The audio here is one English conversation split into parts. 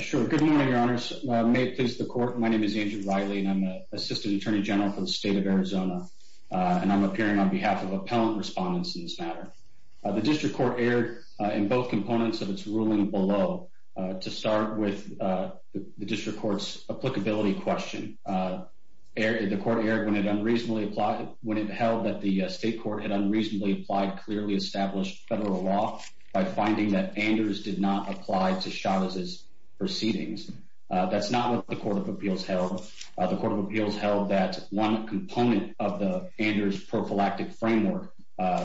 Sure. Good morning, Your Honors. May it please the Court. My name is Andrew Riley, and I'm the Assistant Attorney General for the State of Arizona, and I'm appearing on behalf of appellant respondents in this matter. The District Court erred in both components of its ruling below. To start with, the District Court's applicability question, the Court erred when it held that the State Court had unreasonably applied clearly established federal law by finding that Anders did not apply to Chavez's proceedings. That's not what the Court of Appeals held. The Court of Appeals held that one component of the Anders prophylactic framework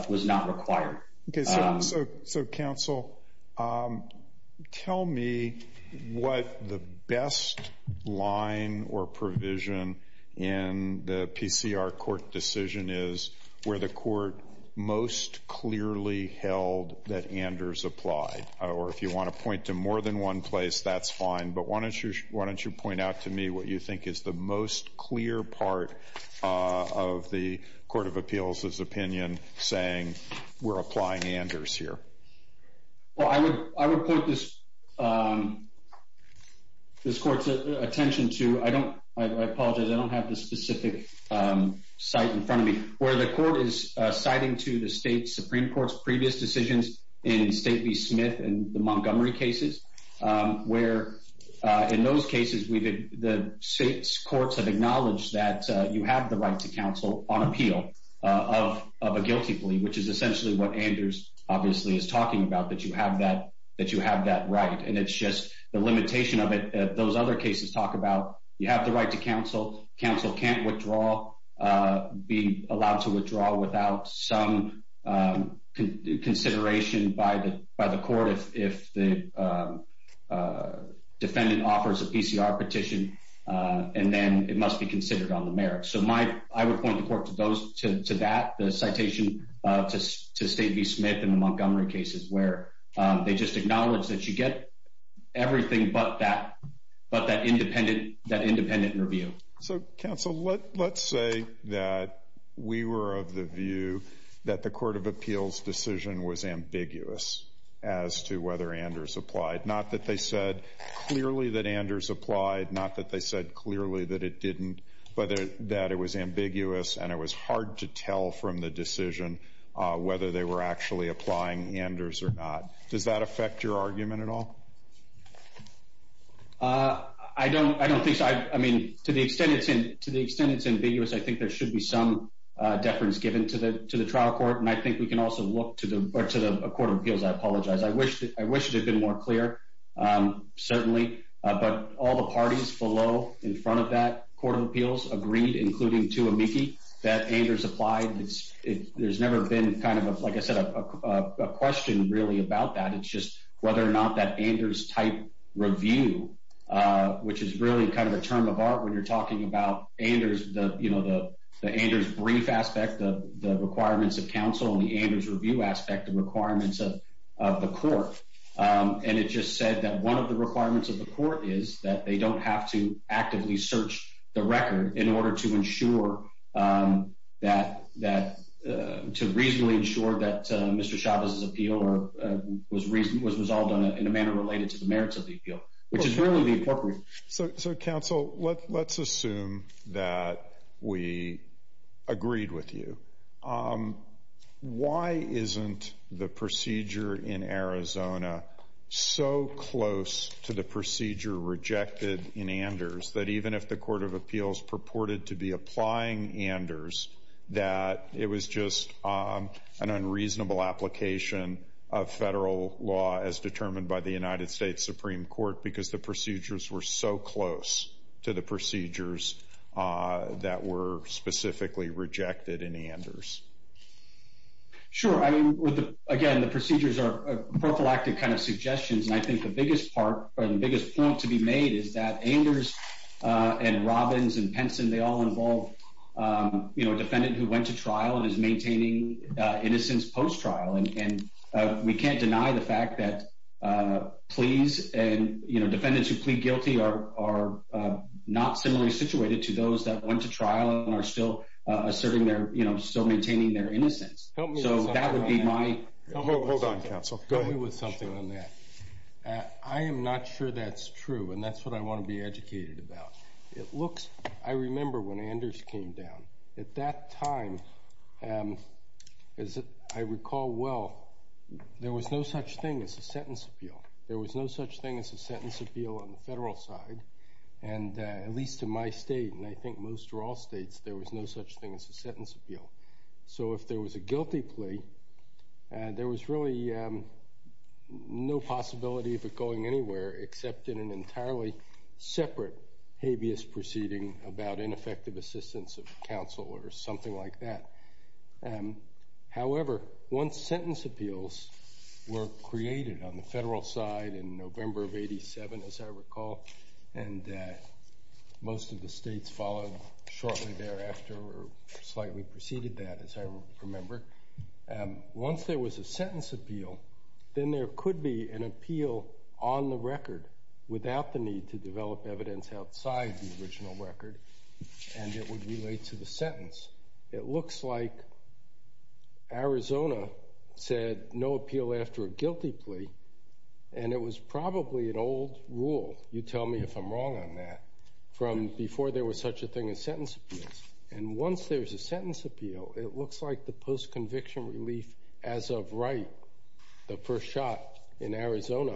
was not required. So, Counsel, tell me what the best line or provision in the PCR court decision is where the Court most clearly held that Anders applied. Or if you want to point to more than one place, that's fine, but why don't you point out to me what you think is the most clear part of the Court of Appeals' opinion saying, we're applying Anders here? Well, I would point this Court's attention to—I apologize, I don't have the specific site in front of me—where the Court is citing to the State Supreme Court's previous decisions in State v. Smith and the Montgomery cases, where in those cases, the State's courts have acknowledged that you have the right to counsel on appeal of a guilty plea, which is essentially what Anders obviously is talking about, that you have that right, and it's just the limitation of it that those other cases talk about. You have the right to counsel. Counsel can't withdraw—be allowed to withdraw without some consideration by the court if the defendant offers a PCR petition, and then it must be considered on the merits. So I would point the Court to that, the citation to State v. Smith and the Montgomery cases, where they just acknowledge that you get everything but that independent review. So, counsel, let's say that we were of the view that the Court of Appeals' decision was ambiguous as to whether Anders applied, not that they said clearly that Anders applied, not that they said clearly that it didn't, but that it was ambiguous and it was hard to tell from the decision whether they were actually applying Anders or not. Does that affect your argument at all? I don't think so. I mean, to the extent it's ambiguous, I think there should be some deference given to the trial court, and I think we can also look to the Court of Appeals. I apologize. I wish it had been more clear, certainly. But all the parties below in front of that Court of Appeals agreed, including Tuamiki, that Anders applied. There's never been kind of, like I said, a question really about that. It's just whether or not that Anders-type review, which is really kind of a term of art when you're talking about Anders, you know, the Anders brief aspect, the requirements of counsel, and the Anders review aspect, the requirements of the Court. And it just said that one of the requirements of the Court is that they don't have to actively search the record in order to ensure that, to reasonably ensure that Mr. Chavez's appeal was resolved in a manner related to the merits of the appeal, which is really the appropriate. So, counsel, let's assume that we agreed with you. Why isn't the procedure in Arizona so close to the procedure rejected in Anders that even if the Court of Appeals purported to be applying Anders, that it was just an unreasonable application of federal law as determined by the United States Supreme Court because the procedures were so close? So close to the procedures that were specifically rejected in Anders? Sure. I mean, again, the procedures are prophylactic kind of suggestions, and I think the biggest part or the biggest point to be made is that Anders and Robbins and Penson, they all involve, you know, a defendant who went to trial and is maintaining innocence post-trial. And we can't deny the fact that pleas and, you know, defendants who plead guilty are not similarly situated to those that went to trial and are still asserting their, you know, still maintaining their innocence. So that would be my… Hold on, counsel. Go ahead. I am not sure that's true, and that's what I want to be educated about. It looks… I remember when Anders came down. At that time, as I recall well, there was no such thing as a sentence appeal. There was no such thing as a sentence appeal on the federal side, and at least in my state, and I think most or all states, there was no such thing as a sentence appeal. So if there was a guilty plea, there was really no possibility of it going anywhere except in an entirely separate habeas proceeding about ineffective assistance of counsel or something like that. However, once sentence appeals were created on the federal side in November of 87, as I recall, and most of the states followed shortly thereafter or slightly preceded that, as I remember. Once there was a sentence appeal, then there could be an appeal on the record without the need to develop evidence outside the original record, and it would relate to the sentence. It looks like Arizona said no appeal after a guilty plea, and it was probably an old rule, you tell me if I'm wrong on that, from before there was such a thing as sentence appeals. And once there's a sentence appeal, it looks like the post-conviction relief as of right, the first shot in Arizona,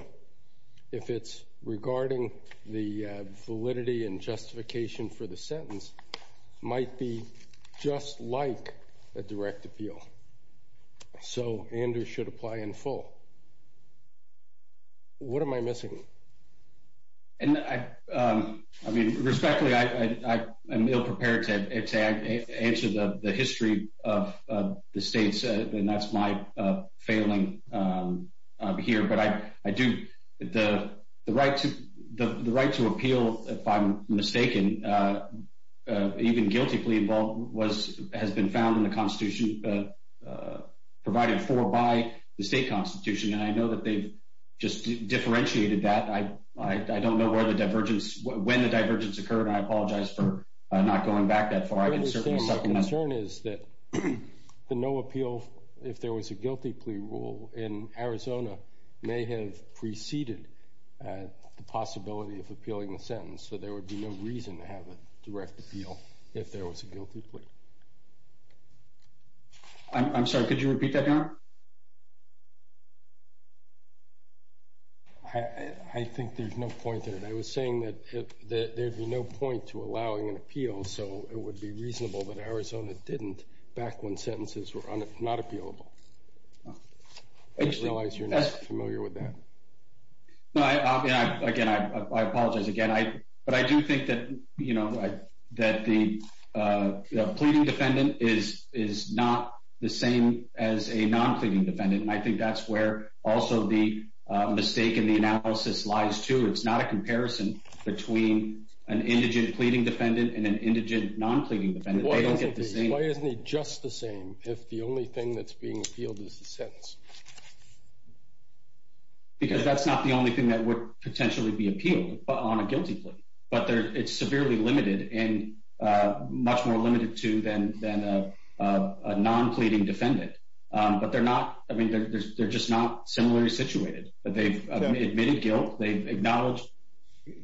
if it's regarding the validity and justification for the sentence, might be just like a direct appeal. So Andrew should apply in full. What am I missing? And I mean, respectfully, I am ill-prepared to answer the history of the states, and that's my failing here. But the right to appeal, if I'm mistaken, even guilty plea has been found in the Constitution, provided for by the state Constitution. And I know that they've just differentiated that. I don't know when the divergence occurred. I apologize for not going back that far. My concern is that the no appeal if there was a guilty plea rule in Arizona may have preceded the possibility of appealing the sentence, so there would be no reason to have a direct appeal if there was a guilty plea. I'm sorry, could you repeat that, Your Honor? I think there's no point in it. I was saying that there'd be no point to allowing an appeal, so it would be reasonable that Arizona didn't back when sentences were not appealable. I realize you're not familiar with that. Again, I apologize again. But I do think that the pleading defendant is not the same as a non-pleading defendant, and I think that's where also the mistake in the analysis lies, too. It's not a comparison between an indigent pleading defendant and an indigent non-pleading defendant. Why isn't he just the same if the only thing that's being appealed is the sentence? Because that's not the only thing that would potentially be appealed on a guilty plea. But it's severely limited and much more limited to than a non-pleading defendant. But they're just not similarly situated. They've admitted guilt.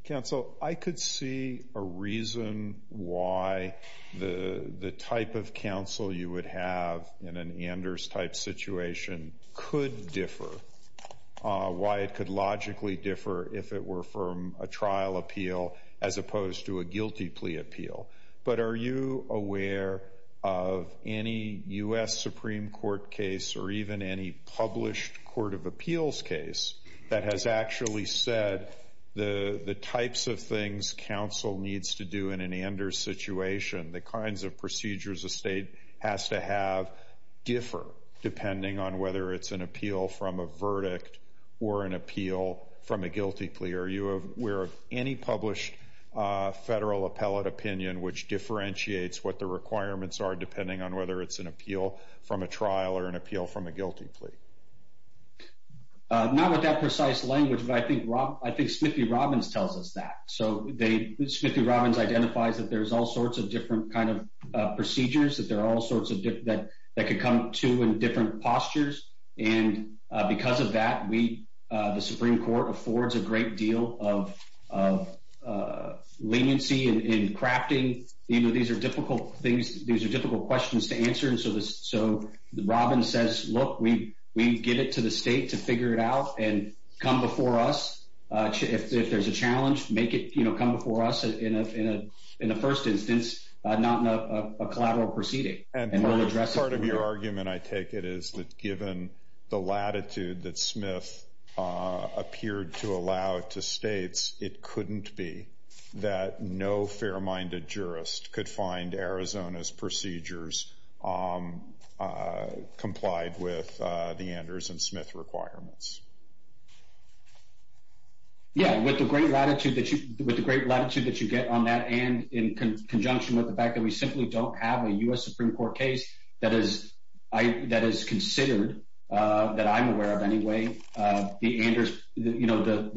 Counsel, I could see a reason why the type of counsel you would have in an Anders-type situation could differ, why it could logically differ if it were from a trial appeal as opposed to a guilty plea appeal. But are you aware of any U.S. Supreme Court case or even any published court of appeals case that has actually said the types of things counsel needs to do in an Anders situation, the kinds of procedures a state has to have, differ depending on whether it's an appeal from a verdict or an appeal from a guilty plea? Are you aware of any published federal appellate opinion which differentiates what the requirements are depending on whether it's an appeal from a trial or an appeal from a guilty plea? Not with that precise language, but I think Smith v. Robbins tells us that. So Smith v. Robbins identifies that there's all sorts of different procedures that could come to in different postures. And because of that, the Supreme Court affords a great deal of leniency in crafting. These are difficult questions to answer. So Robbins says, look, we give it to the state to figure it out and come before us. If there's a challenge, make it come before us in the first instance, not in a collateral proceeding. And part of your argument, I take it, is that given the latitude that Smith appeared to allow to states, it couldn't be that no fair-minded jurist could find Arizona's procedures complied with the Anders and Smith requirements. Yeah, with the great latitude that you get on that and in conjunction with the fact that we simply don't have a U.S. Supreme Court case that is considered, that I'm aware of anyway, the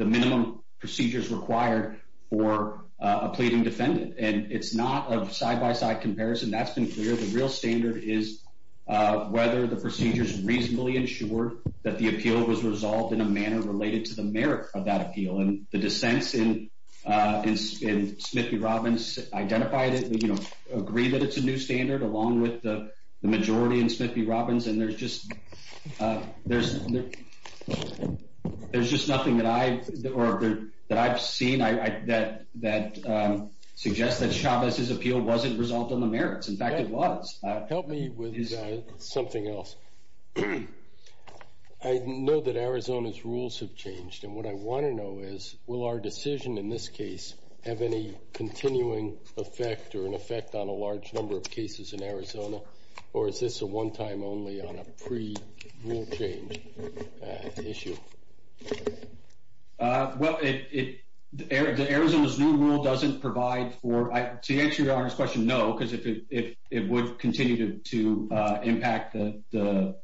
minimum procedures required for a pleading defendant. And it's not a side-by-side comparison. That's been clear. The real standard is whether the procedures reasonably ensure that the appeal was resolved in a manner related to the merit of that appeal. And the dissents in Smith v. Robbins identified it and, you know, agree that it's a new standard along with the majority in Smith v. Robbins. And there's just nothing that I've seen that suggests that Chavez's appeal wasn't resolved on the merits. In fact, it was. Help me with something else. I know that Arizona's rules have changed. And what I want to know is, will our decision in this case have any continuing effect or an effect on a large number of cases in Arizona? Or is this a one-time only on a pre-rule change issue? Well, Arizona's new rule doesn't provide for, to answer your Honor's question, no. Because it would continue to impact the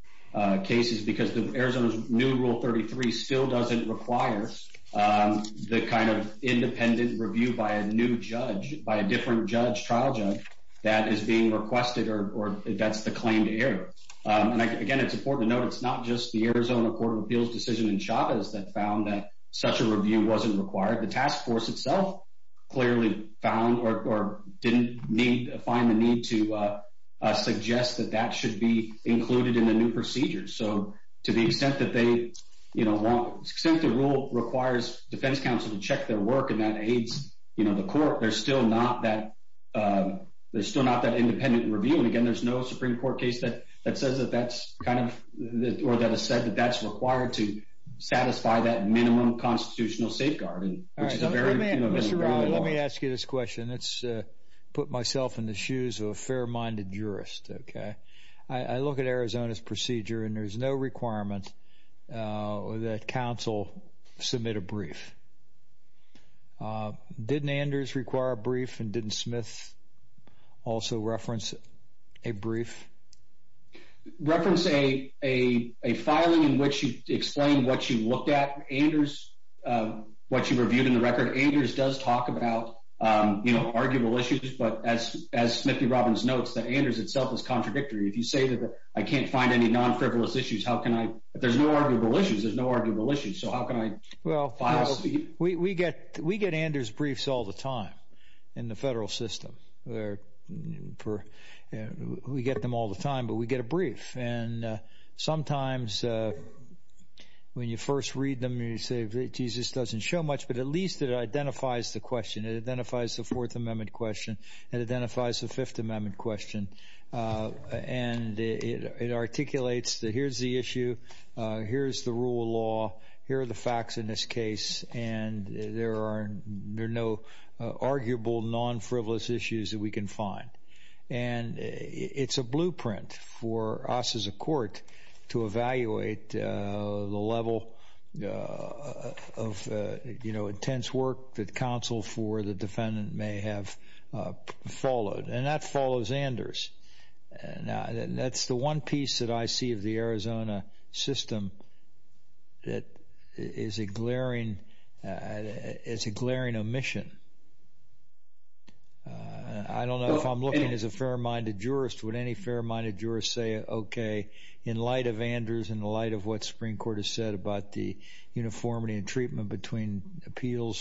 cases because Arizona's new Rule 33 still doesn't require the kind of independent review by a new judge, by a different judge, trial judge, that is being requested or that's the claim to error. And again, it's important to note it's not just the Arizona Court of Appeals decision in Chavez that found that such a review wasn't required. The task force itself clearly found or didn't need, find the need to suggest that that should be included in the new procedure. So to the extent that they, you know, want, since the rule requires defense counsel to check their work and that aids, you know, the court, there's still not that, there's still not that independent review. And again, there's no Supreme Court case that says that that's kind of, or that has said that that's required to satisfy that minimum constitutional safeguard. All right, Mr. Robin, let me ask you this question. Let's put myself in the shoes of a fair-minded jurist, okay? I look at Arizona's procedure and there's no requirement that counsel submit a brief. Didn't Anders require a brief and didn't Smith also reference a brief? Reference a filing in which you explain what you looked at. Anders, what you reviewed in the record, Anders does talk about, you know, arguable issues. But as Smith v. Robbins notes, that Anders itself is contradictory. If you say that I can't find any non-frivolous issues, how can I, there's no arguable issues, there's no arguable issues. So how can I file a brief? We get Anders briefs all the time in the federal system. We get them all the time, but we get a brief. And sometimes when you first read them, you say, Jesus doesn't show much, but at least it identifies the question. It identifies the Fourth Amendment question. It identifies the Fifth Amendment question. And it articulates that here's the issue, here's the rule of law, here are the facts in this case, and there are no arguable non-frivolous issues that we can find. And it's a blueprint for us as a court to evaluate the level of, you know, intense work that counsel for the defendant may have followed. And that follows Anders. And that's the one piece that I see of the Arizona system that is a glaring omission. I don't know if I'm looking as a fair-minded jurist. Would any fair-minded jurist say, okay, in light of Anders, in the light of what the Supreme Court has said about the uniformity and treatment between appeals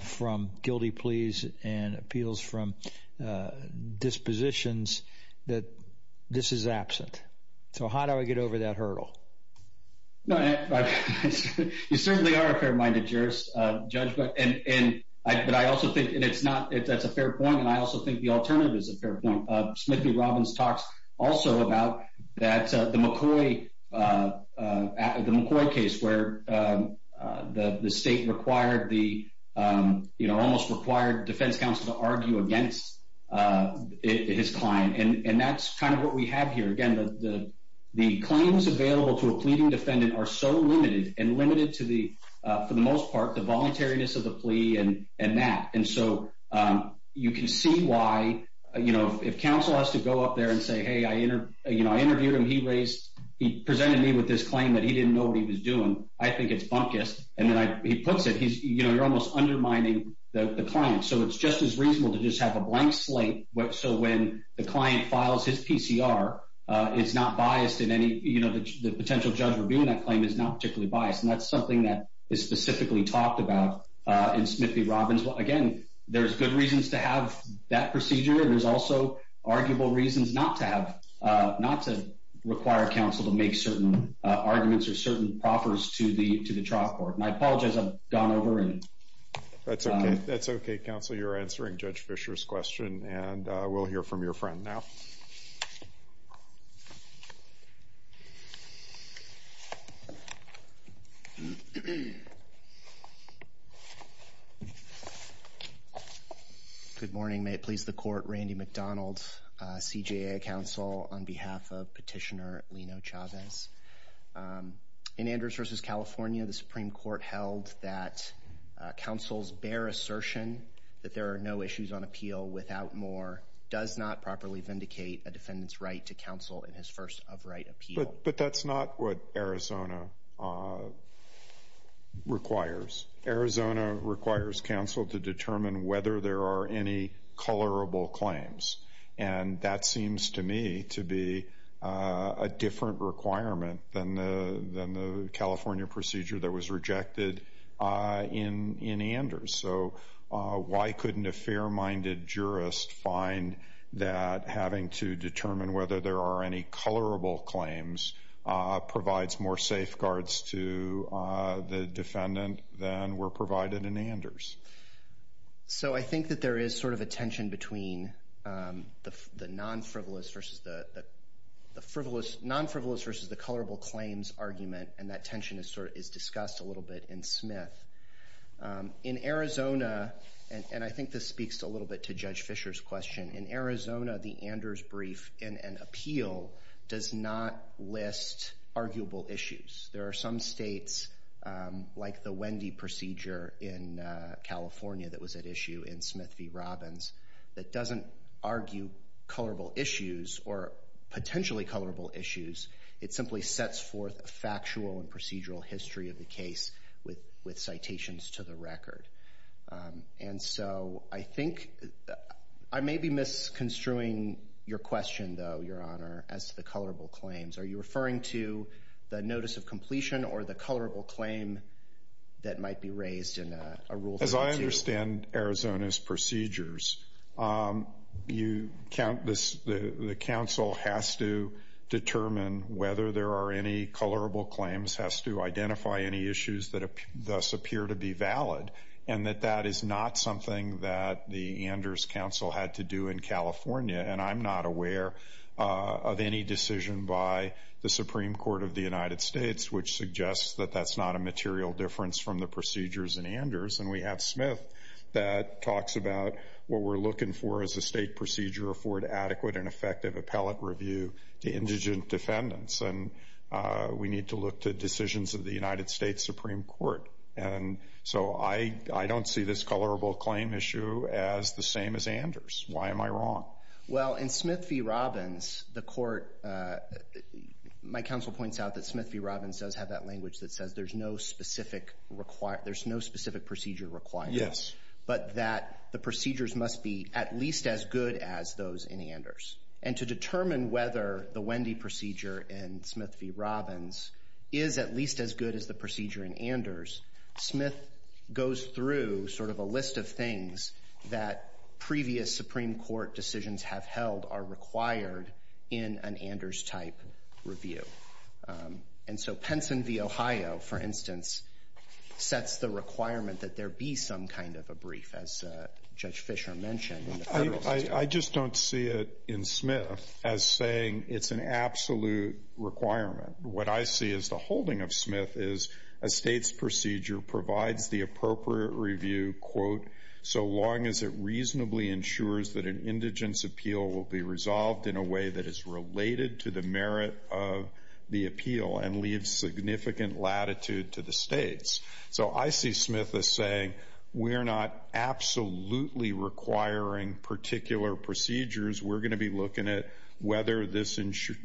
from guilty pleas and appeals from dispositions, that this is absent? So how do I get over that hurdle? You certainly are a fair-minded jurist, Judge, but I also think that's a fair point, and I also think the alternative is a fair point. Smith v. Robbins talks also about the McCoy case where the state required the, you know, almost required defense counsel to argue against his client. And that's kind of what we have here. Again, the claims available to a pleading defendant are so limited and limited to the, for the most part, the voluntariness of the plea and that. And so you can see why, you know, if counsel has to go up there and say, hey, you know, I interviewed him. He presented me with this claim that he didn't know what he was doing. I think it's bunkus. And then he puts it, you know, you're almost undermining the client. So it's just as reasonable to just have a blank slate so when the client files his PCR, it's not biased in any, you know, the potential judge reviewing that claim is not particularly biased. And that's something that is specifically talked about in Smith v. Robbins. Again, there's good reasons to have that procedure. And there's also arguable reasons not to have, not to require counsel to make certain arguments or certain proffers to the trial court. And I apologize, I've gone over. That's okay. That's okay, counsel. So you're answering Judge Fischer's question, and we'll hear from your friend now. Good morning. May it please the Court. Randy McDonald, CJA Counsel, on behalf of Petitioner Lino Chavez. In Andrews v. California, the Supreme Court held that counsel's bare assertion that there are no issues on appeal without more does not properly vindicate a defendant's right to counsel in his first of right appeal. But that's not what Arizona requires. Arizona requires counsel to determine whether there are any colorable claims. And that seems to me to be a different requirement than the California procedure that was rejected in Anders. So why couldn't a fair-minded jurist find that having to determine whether there are any colorable claims provides more safeguards to the defendant than were provided in Anders? So I think that there is sort of a tension between the non-frivolous versus the colorable claims argument, and that tension is discussed a little bit in Smith. In Arizona, and I think this speaks a little bit to Judge Fischer's question, in Arizona, the Anders brief in an appeal does not list arguable issues. There are some states, like the Wendy procedure in California that was at issue in Smith v. Robbins, that doesn't argue colorable issues or potentially colorable issues. It simply sets forth a factual and procedural history of the case with citations to the record. And so I think I may be misconstruing your question, though, Your Honor, as to the colorable claims. Are you referring to the notice of completion or the colorable claim that might be raised in a Rule 32? As I understand Arizona's procedures, the counsel has to determine whether there are any colorable claims, has to identify any issues that thus appear to be valid, and that that is not something that the Anders counsel had to do in California. And I'm not aware of any decision by the Supreme Court of the United States which suggests that that's not a material difference from the procedures in Anders. And we have Smith that talks about what we're looking for as a state procedure for an adequate and effective appellate review to indigent defendants. And we need to look to decisions of the United States Supreme Court. And so I don't see this colorable claim issue as the same as Anders. Why am I wrong? Well, in Smith v. Robbins, the court, my counsel points out that Smith v. Robbins does have that language that says there's no specific procedure required. Yes. But that the procedures must be at least as good as those in Anders. And to determine whether the Wendy procedure in Smith v. Robbins is at least as good as the procedure in Anders, Smith goes through sort of a list of things that previous Supreme Court decisions have held are required in an Anders-type review. And so Penson v. Ohio, for instance, sets the requirement that there be some kind of a brief, as Judge Fischer mentioned, in the federal system. I just don't see it in Smith as saying it's an absolute requirement. What I see as the holding of Smith is a state's procedure provides the appropriate review, quote, so long as it reasonably ensures that an indigent's appeal will be resolved in a way that is related to the merit of the appeal and leaves significant latitude to the states. So I see Smith as saying we're not absolutely requiring particular procedures. We're going to be looking at whether this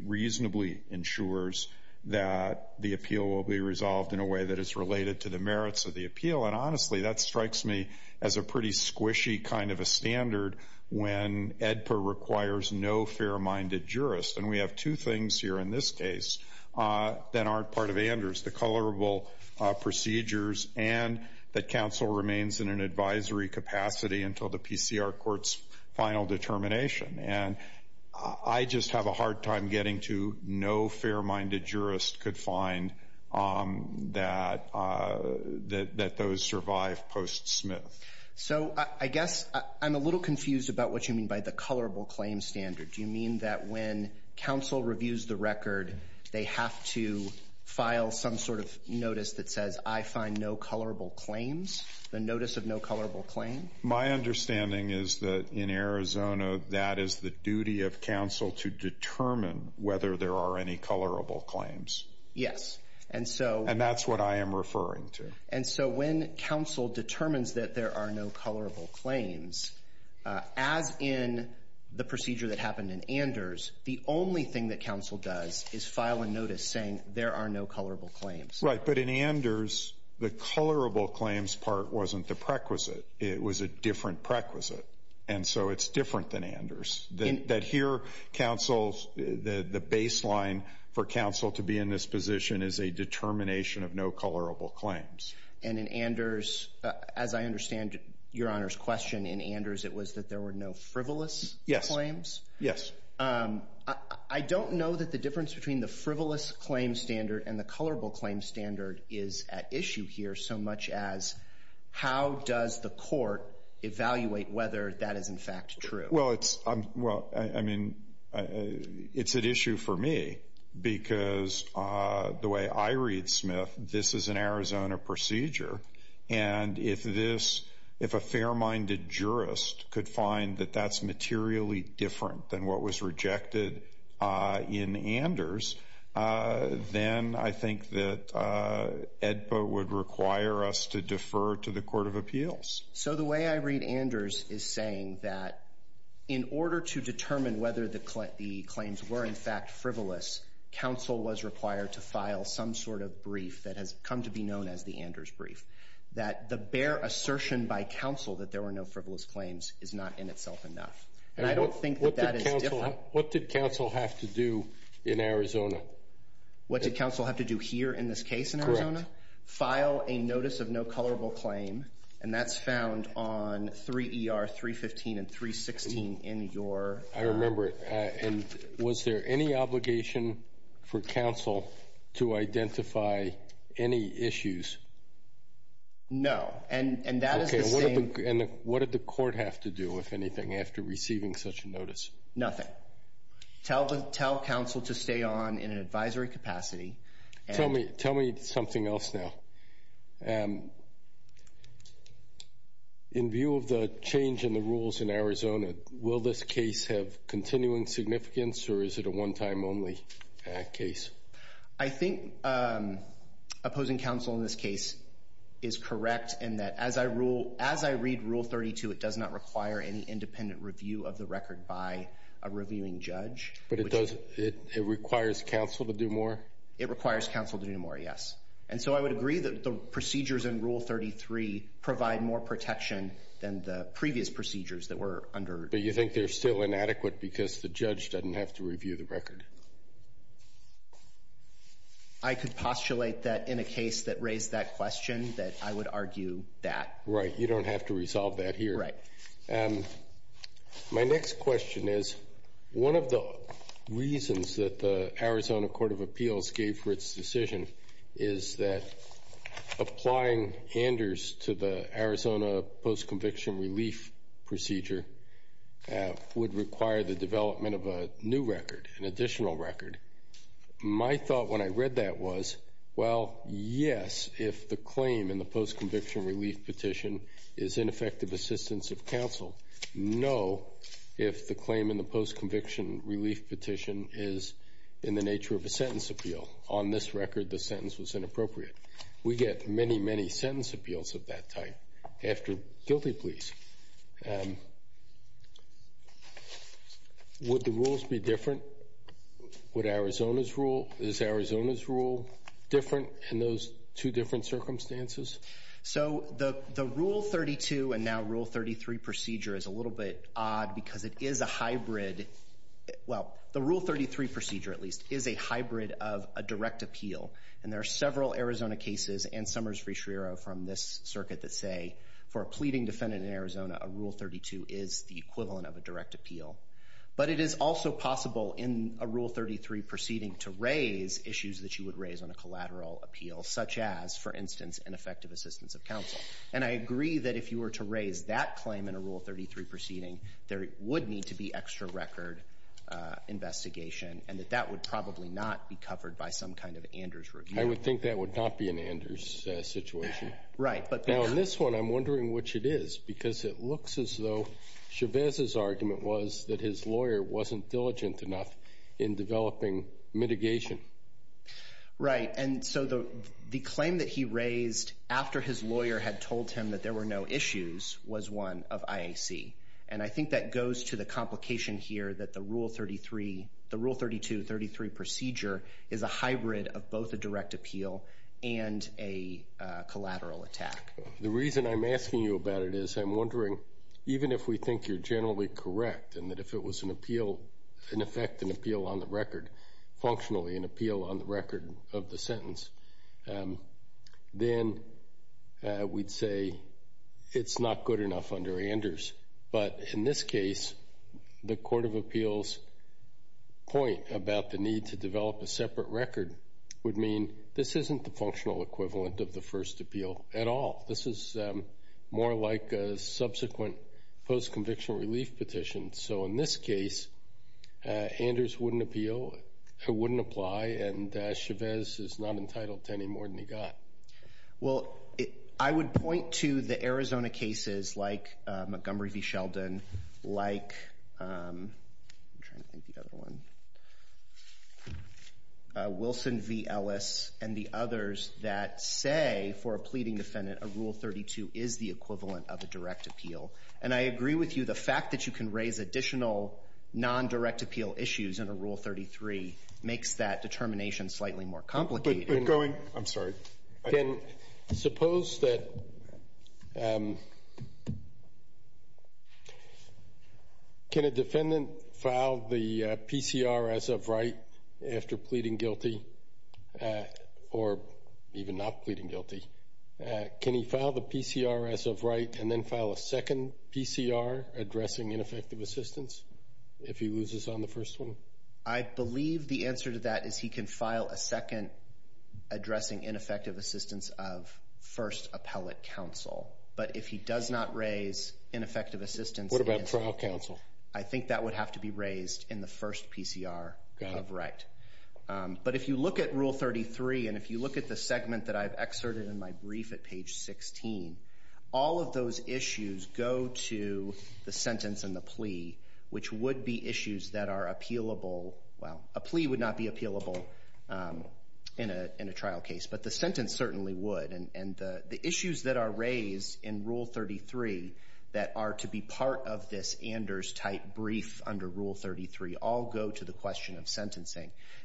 reasonably ensures that the appeal will be resolved in a way that is related to the merits of the appeal. And honestly, that strikes me as a pretty squishy kind of a standard when AEDPA requires no fair-minded jurist. And we have two things here in this case that aren't part of Anders, the colorable procedures and that counsel remains in an advisory capacity until the PCR court's final determination. And I just have a hard time getting to no fair-minded jurist could find that those survive post-Smith. So I guess I'm a little confused about what you mean by the colorable claim standard. Do you mean that when counsel reviews the record, they have to file some sort of notice that says I find no colorable claims, the notice of no colorable claim? My understanding is that in Arizona, that is the duty of counsel to determine whether there are any colorable claims. Yes. And that's what I am referring to. And so when counsel determines that there are no colorable claims, as in the procedure that happened in Anders, the only thing that counsel does is file a notice saying there are no colorable claims. Right. But in Anders, the colorable claims part wasn't the prequisite. It was a different prequisite. And so it's different than Anders. That here counsel's the baseline for counsel to be in this position is a determination of no colorable claims. And in Anders, as I understand Your Honor's question in Anders, it was that there were no frivolous claims. Yes. I don't know that the difference between the frivolous claim standard and the colorable claim standard is at issue here so much as how does the court evaluate whether that is in fact true? Well, I mean, it's at issue for me because the way I read Smith, this is an Arizona procedure, and if a fair-minded jurist could find that that's materially different than what was rejected in Anders, then I think that AEDPA would require us to defer to the Court of Appeals. So the way I read Anders is saying that in order to determine whether the claims were in fact frivolous, counsel was required to file some sort of brief that has come to be known as the Anders brief, that the bare assertion by counsel that there were no frivolous claims is not in itself enough. And I don't think that that is different. What did counsel have to do in Arizona? What did counsel have to do here in this case in Arizona? Correct. File a notice of no colorable claim, and that's found on 3ER, 315, and 316 in your… I remember it. And was there any obligation for counsel to identify any issues? No, and that is the same… Okay, and what did the court have to do, if anything, after receiving such a notice? Nothing. Tell counsel to stay on in an advisory capacity and… Tell me something else now. In view of the change in the rules in Arizona, will this case have continuing significance, or is it a one-time only case? I think opposing counsel in this case is correct in that as I read Rule 32, it does not require any independent review of the record by a reviewing judge. But it requires counsel to do more? It requires counsel to do more, yes. And so I would agree that the procedures in Rule 33 provide more protection than the previous procedures that were under… But you think they're still inadequate because the judge doesn't have to review the record? I could postulate that in a case that raised that question, that I would argue that. Right. You don't have to resolve that here. Right. My next question is one of the reasons that the Arizona Court of Appeals gave for its decision is that applying Anders to the Arizona post-conviction relief procedure would require the development of a new record, an additional record. My thought when I read that was, well, yes, if the claim in the post-conviction relief petition is ineffective assistance of counsel. No, if the claim in the post-conviction relief petition is in the nature of a sentence appeal. On this record, the sentence was inappropriate. We get many, many sentence appeals of that type after guilty pleas. Would the rules be different? Would Arizona's rule? Is Arizona's rule different? In those two different circumstances? So the Rule 32 and now Rule 33 procedure is a little bit odd because it is a hybrid. Well, the Rule 33 procedure, at least, is a hybrid of a direct appeal. And there are several Arizona cases and Summers v. Schriero from this circuit that say, for a pleading defendant in Arizona, a Rule 32 is the equivalent of a direct appeal. But it is also possible in a Rule 33 proceeding to raise issues that you would raise on a collateral appeal, such as, for instance, ineffective assistance of counsel. And I agree that if you were to raise that claim in a Rule 33 proceeding, there would need to be extra record investigation, and that that would probably not be covered by some kind of Anders review. I would think that would not be an Anders situation. Right. Now, in this one, I'm wondering which it is, because it looks as though Chavez's argument was that his lawyer wasn't diligent enough in developing mitigation. Right. And so the claim that he raised after his lawyer had told him that there were no issues was one of IAC. And I think that goes to the complication here that the Rule 32, 33 procedure is a hybrid of both a direct appeal and a collateral attack. The reason I'm asking you about it is I'm wondering, even if we think you're generally correct and that if it was an appeal, in effect, an appeal on the record, functionally an appeal on the record of the sentence, then we'd say it's not good enough under Anders. But in this case, the Court of Appeals' point about the need to develop a separate record would mean this isn't the functional equivalent of the first appeal at all. This is more like a subsequent post-conviction relief petition. So in this case, Anders wouldn't appeal, wouldn't apply, and Chavez is not entitled to any more than he got. Well, I would point to the Arizona cases like Montgomery v. Sheldon, like Wilson v. Ellis, and the others that say for a pleading defendant, a Rule 32 is the equivalent of a direct appeal. And I agree with you, the fact that you can raise additional non-direct appeal issues in a Rule 33 makes that determination slightly more complicated. But going – I'm sorry. Can – suppose that – can a defendant file the PCR as of right after pleading guilty or even not pleading guilty? Can he file the PCR as of right and then file a second PCR addressing ineffective assistance if he loses on the first one? I believe the answer to that is he can file a second addressing ineffective assistance of first appellate counsel. But if he does not raise ineffective assistance, I think that would have to be raised in the first PCR of right. But if you look at Rule 33 and if you look at the segment that I've excerpted in my brief at page 16, all of those issues go to the sentence and the plea, which would be issues that are appealable – well, a plea would not be appealable in a trial case, but the sentence certainly would. And the issues that are raised in Rule 33 that are to be part of this Anders-type brief under Rule 33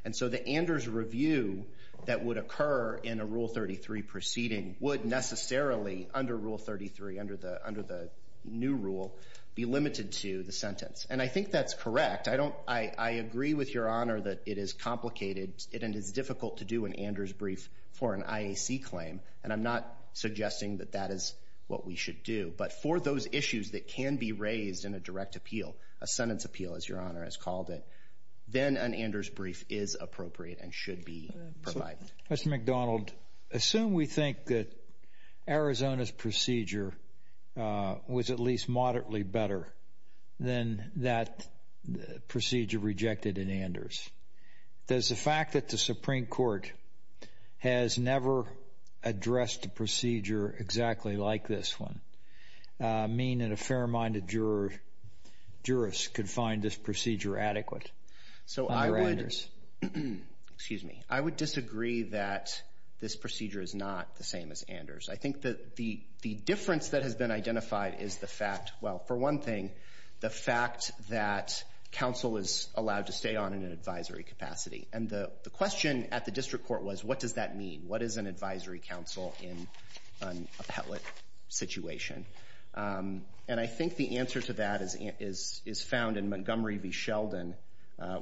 And so the Anders review that would occur in a Rule 33 proceeding would necessarily, under Rule 33, under the new rule, be limited to the sentence. And I think that's correct. I don't – I agree with Your Honor that it is complicated and it is difficult to do an Anders brief for an IAC claim. And I'm not suggesting that that is what we should do. But for those issues that can be raised in a direct appeal, a sentence appeal, as Your Honor has called it, then an Anders brief is appropriate and should be provided. Mr. McDonald, assume we think that Arizona's procedure was at least moderately better than that procedure rejected in Anders. Does the fact that the Supreme Court has never addressed a procedure exactly like this one mean that a fair-minded jurist could find this procedure adequate under Anders? So I would – excuse me. I would disagree that this procedure is not the same as Anders. I think that the difference that has been identified is the fact – well, for one thing, the fact that counsel is allowed to stay on in an advisory capacity. And the question at the district court was, what does that mean? What is an advisory counsel in an appellate situation? And I think the answer to that is found in Montgomery v. Sheldon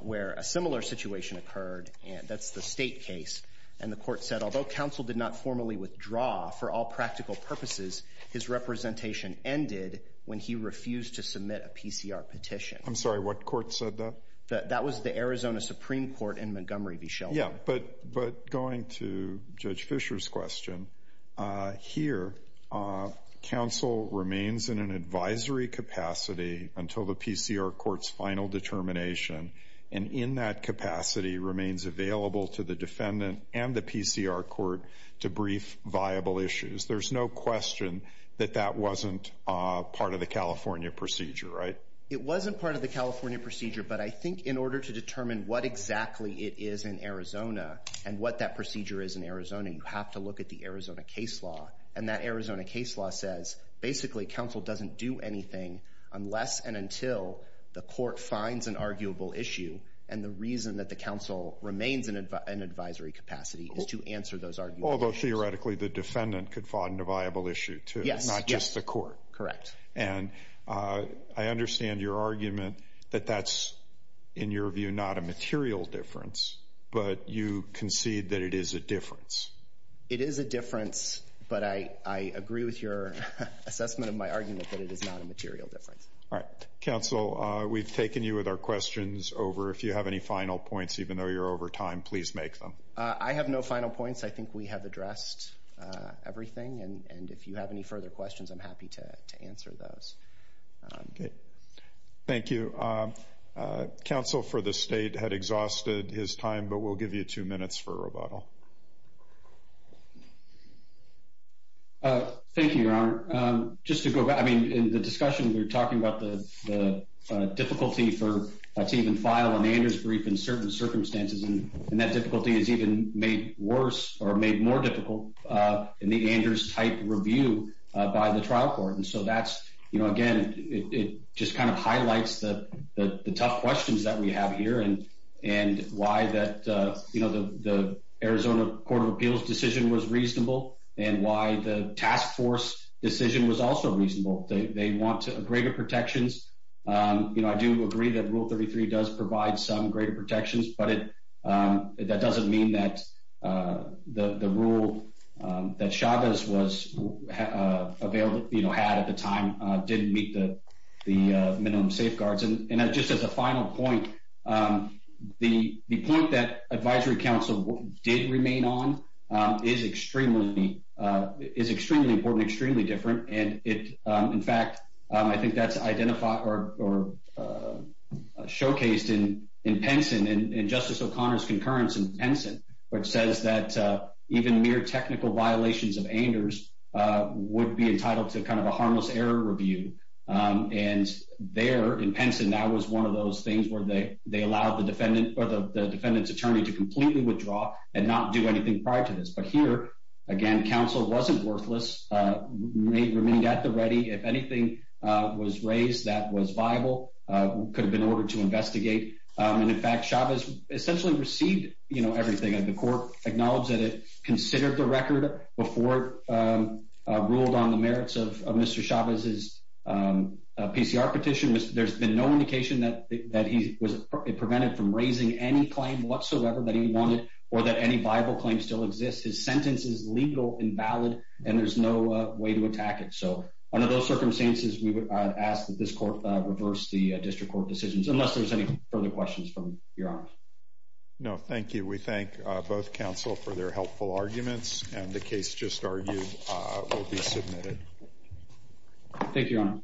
where a similar situation occurred, and that's the state case. And the court said, although counsel did not formally withdraw for all practical purposes, his representation ended when he refused to submit a PCR petition. I'm sorry, what court said that? That was the Arizona Supreme Court in Montgomery v. Sheldon. Yeah, but going to Judge Fischer's question, here, counsel remains in an advisory capacity until the PCR court's final determination, and in that capacity remains available to the defendant and the PCR court to brief viable issues. There's no question that that wasn't part of the California procedure, right? It wasn't part of the California procedure, but I think in order to determine what exactly it is in Arizona and what that procedure is in Arizona, you have to look at the Arizona case law. And that Arizona case law says, basically, counsel doesn't do anything unless and until the court finds an arguable issue, and the reason that the counsel remains in an advisory capacity is to answer those arguable issues. Although, theoretically, the defendant could find a viable issue, too, not just the court. Correct. And I understand your argument that that's, in your view, not a material difference, but you concede that it is a difference. It is a difference, but I agree with your assessment of my argument that it is not a material difference. All right. Counsel, we've taken you with our questions over. If you have any final points, even though you're over time, please make them. I have no final points. I think we have addressed everything, and if you have any further questions, I'm happy to answer those. Okay. Thank you. Counsel for the State had exhausted his time, but we'll give you two minutes for rebuttal. Thank you, Your Honor. Just to go back, I mean, in the discussion, we were talking about the difficulty to even file an Anders brief in certain circumstances, and that difficulty is even made worse or made more difficult in the Anders-type review by the trial court. And so that's, you know, again, it just kind of highlights the tough questions that we have here and why that, you know, the Arizona Court of Appeals decision was reasonable and why the task force decision was also reasonable. They want greater protections. You know, I do agree that Rule 33 does provide some greater protections, but that doesn't mean that the rule that Chavez had at the time didn't meet the minimum safeguards. And just as a final point, the point that advisory counsel did remain on is extremely important, and extremely different, and, in fact, I think that's identified or showcased in Penson, in Justice O'Connor's concurrence in Penson, which says that even mere technical violations of Anders would be entitled to kind of a harmless error review. And there, in Penson, that was one of those things where they allowed the defendant or the defendant's attorney to completely withdraw and not do anything prior to this. But here, again, counsel wasn't worthless, remained at the ready. If anything was raised that was viable, could have been ordered to investigate. And, in fact, Chavez essentially received, you know, everything. The court acknowledged that it considered the record before it ruled on the merits of Mr. Chavez's PCR petition. There's been no indication that he was prevented from raising any claim whatsoever that he wanted or that any viable claim still exists. His sentence is legal, invalid, and there's no way to attack it. So under those circumstances, we would ask that this court reverse the district court decisions, unless there's any further questions from Your Honor. No, thank you. We thank both counsel for their helpful arguments, and the case just argued will be submitted. Thank you, Your Honor.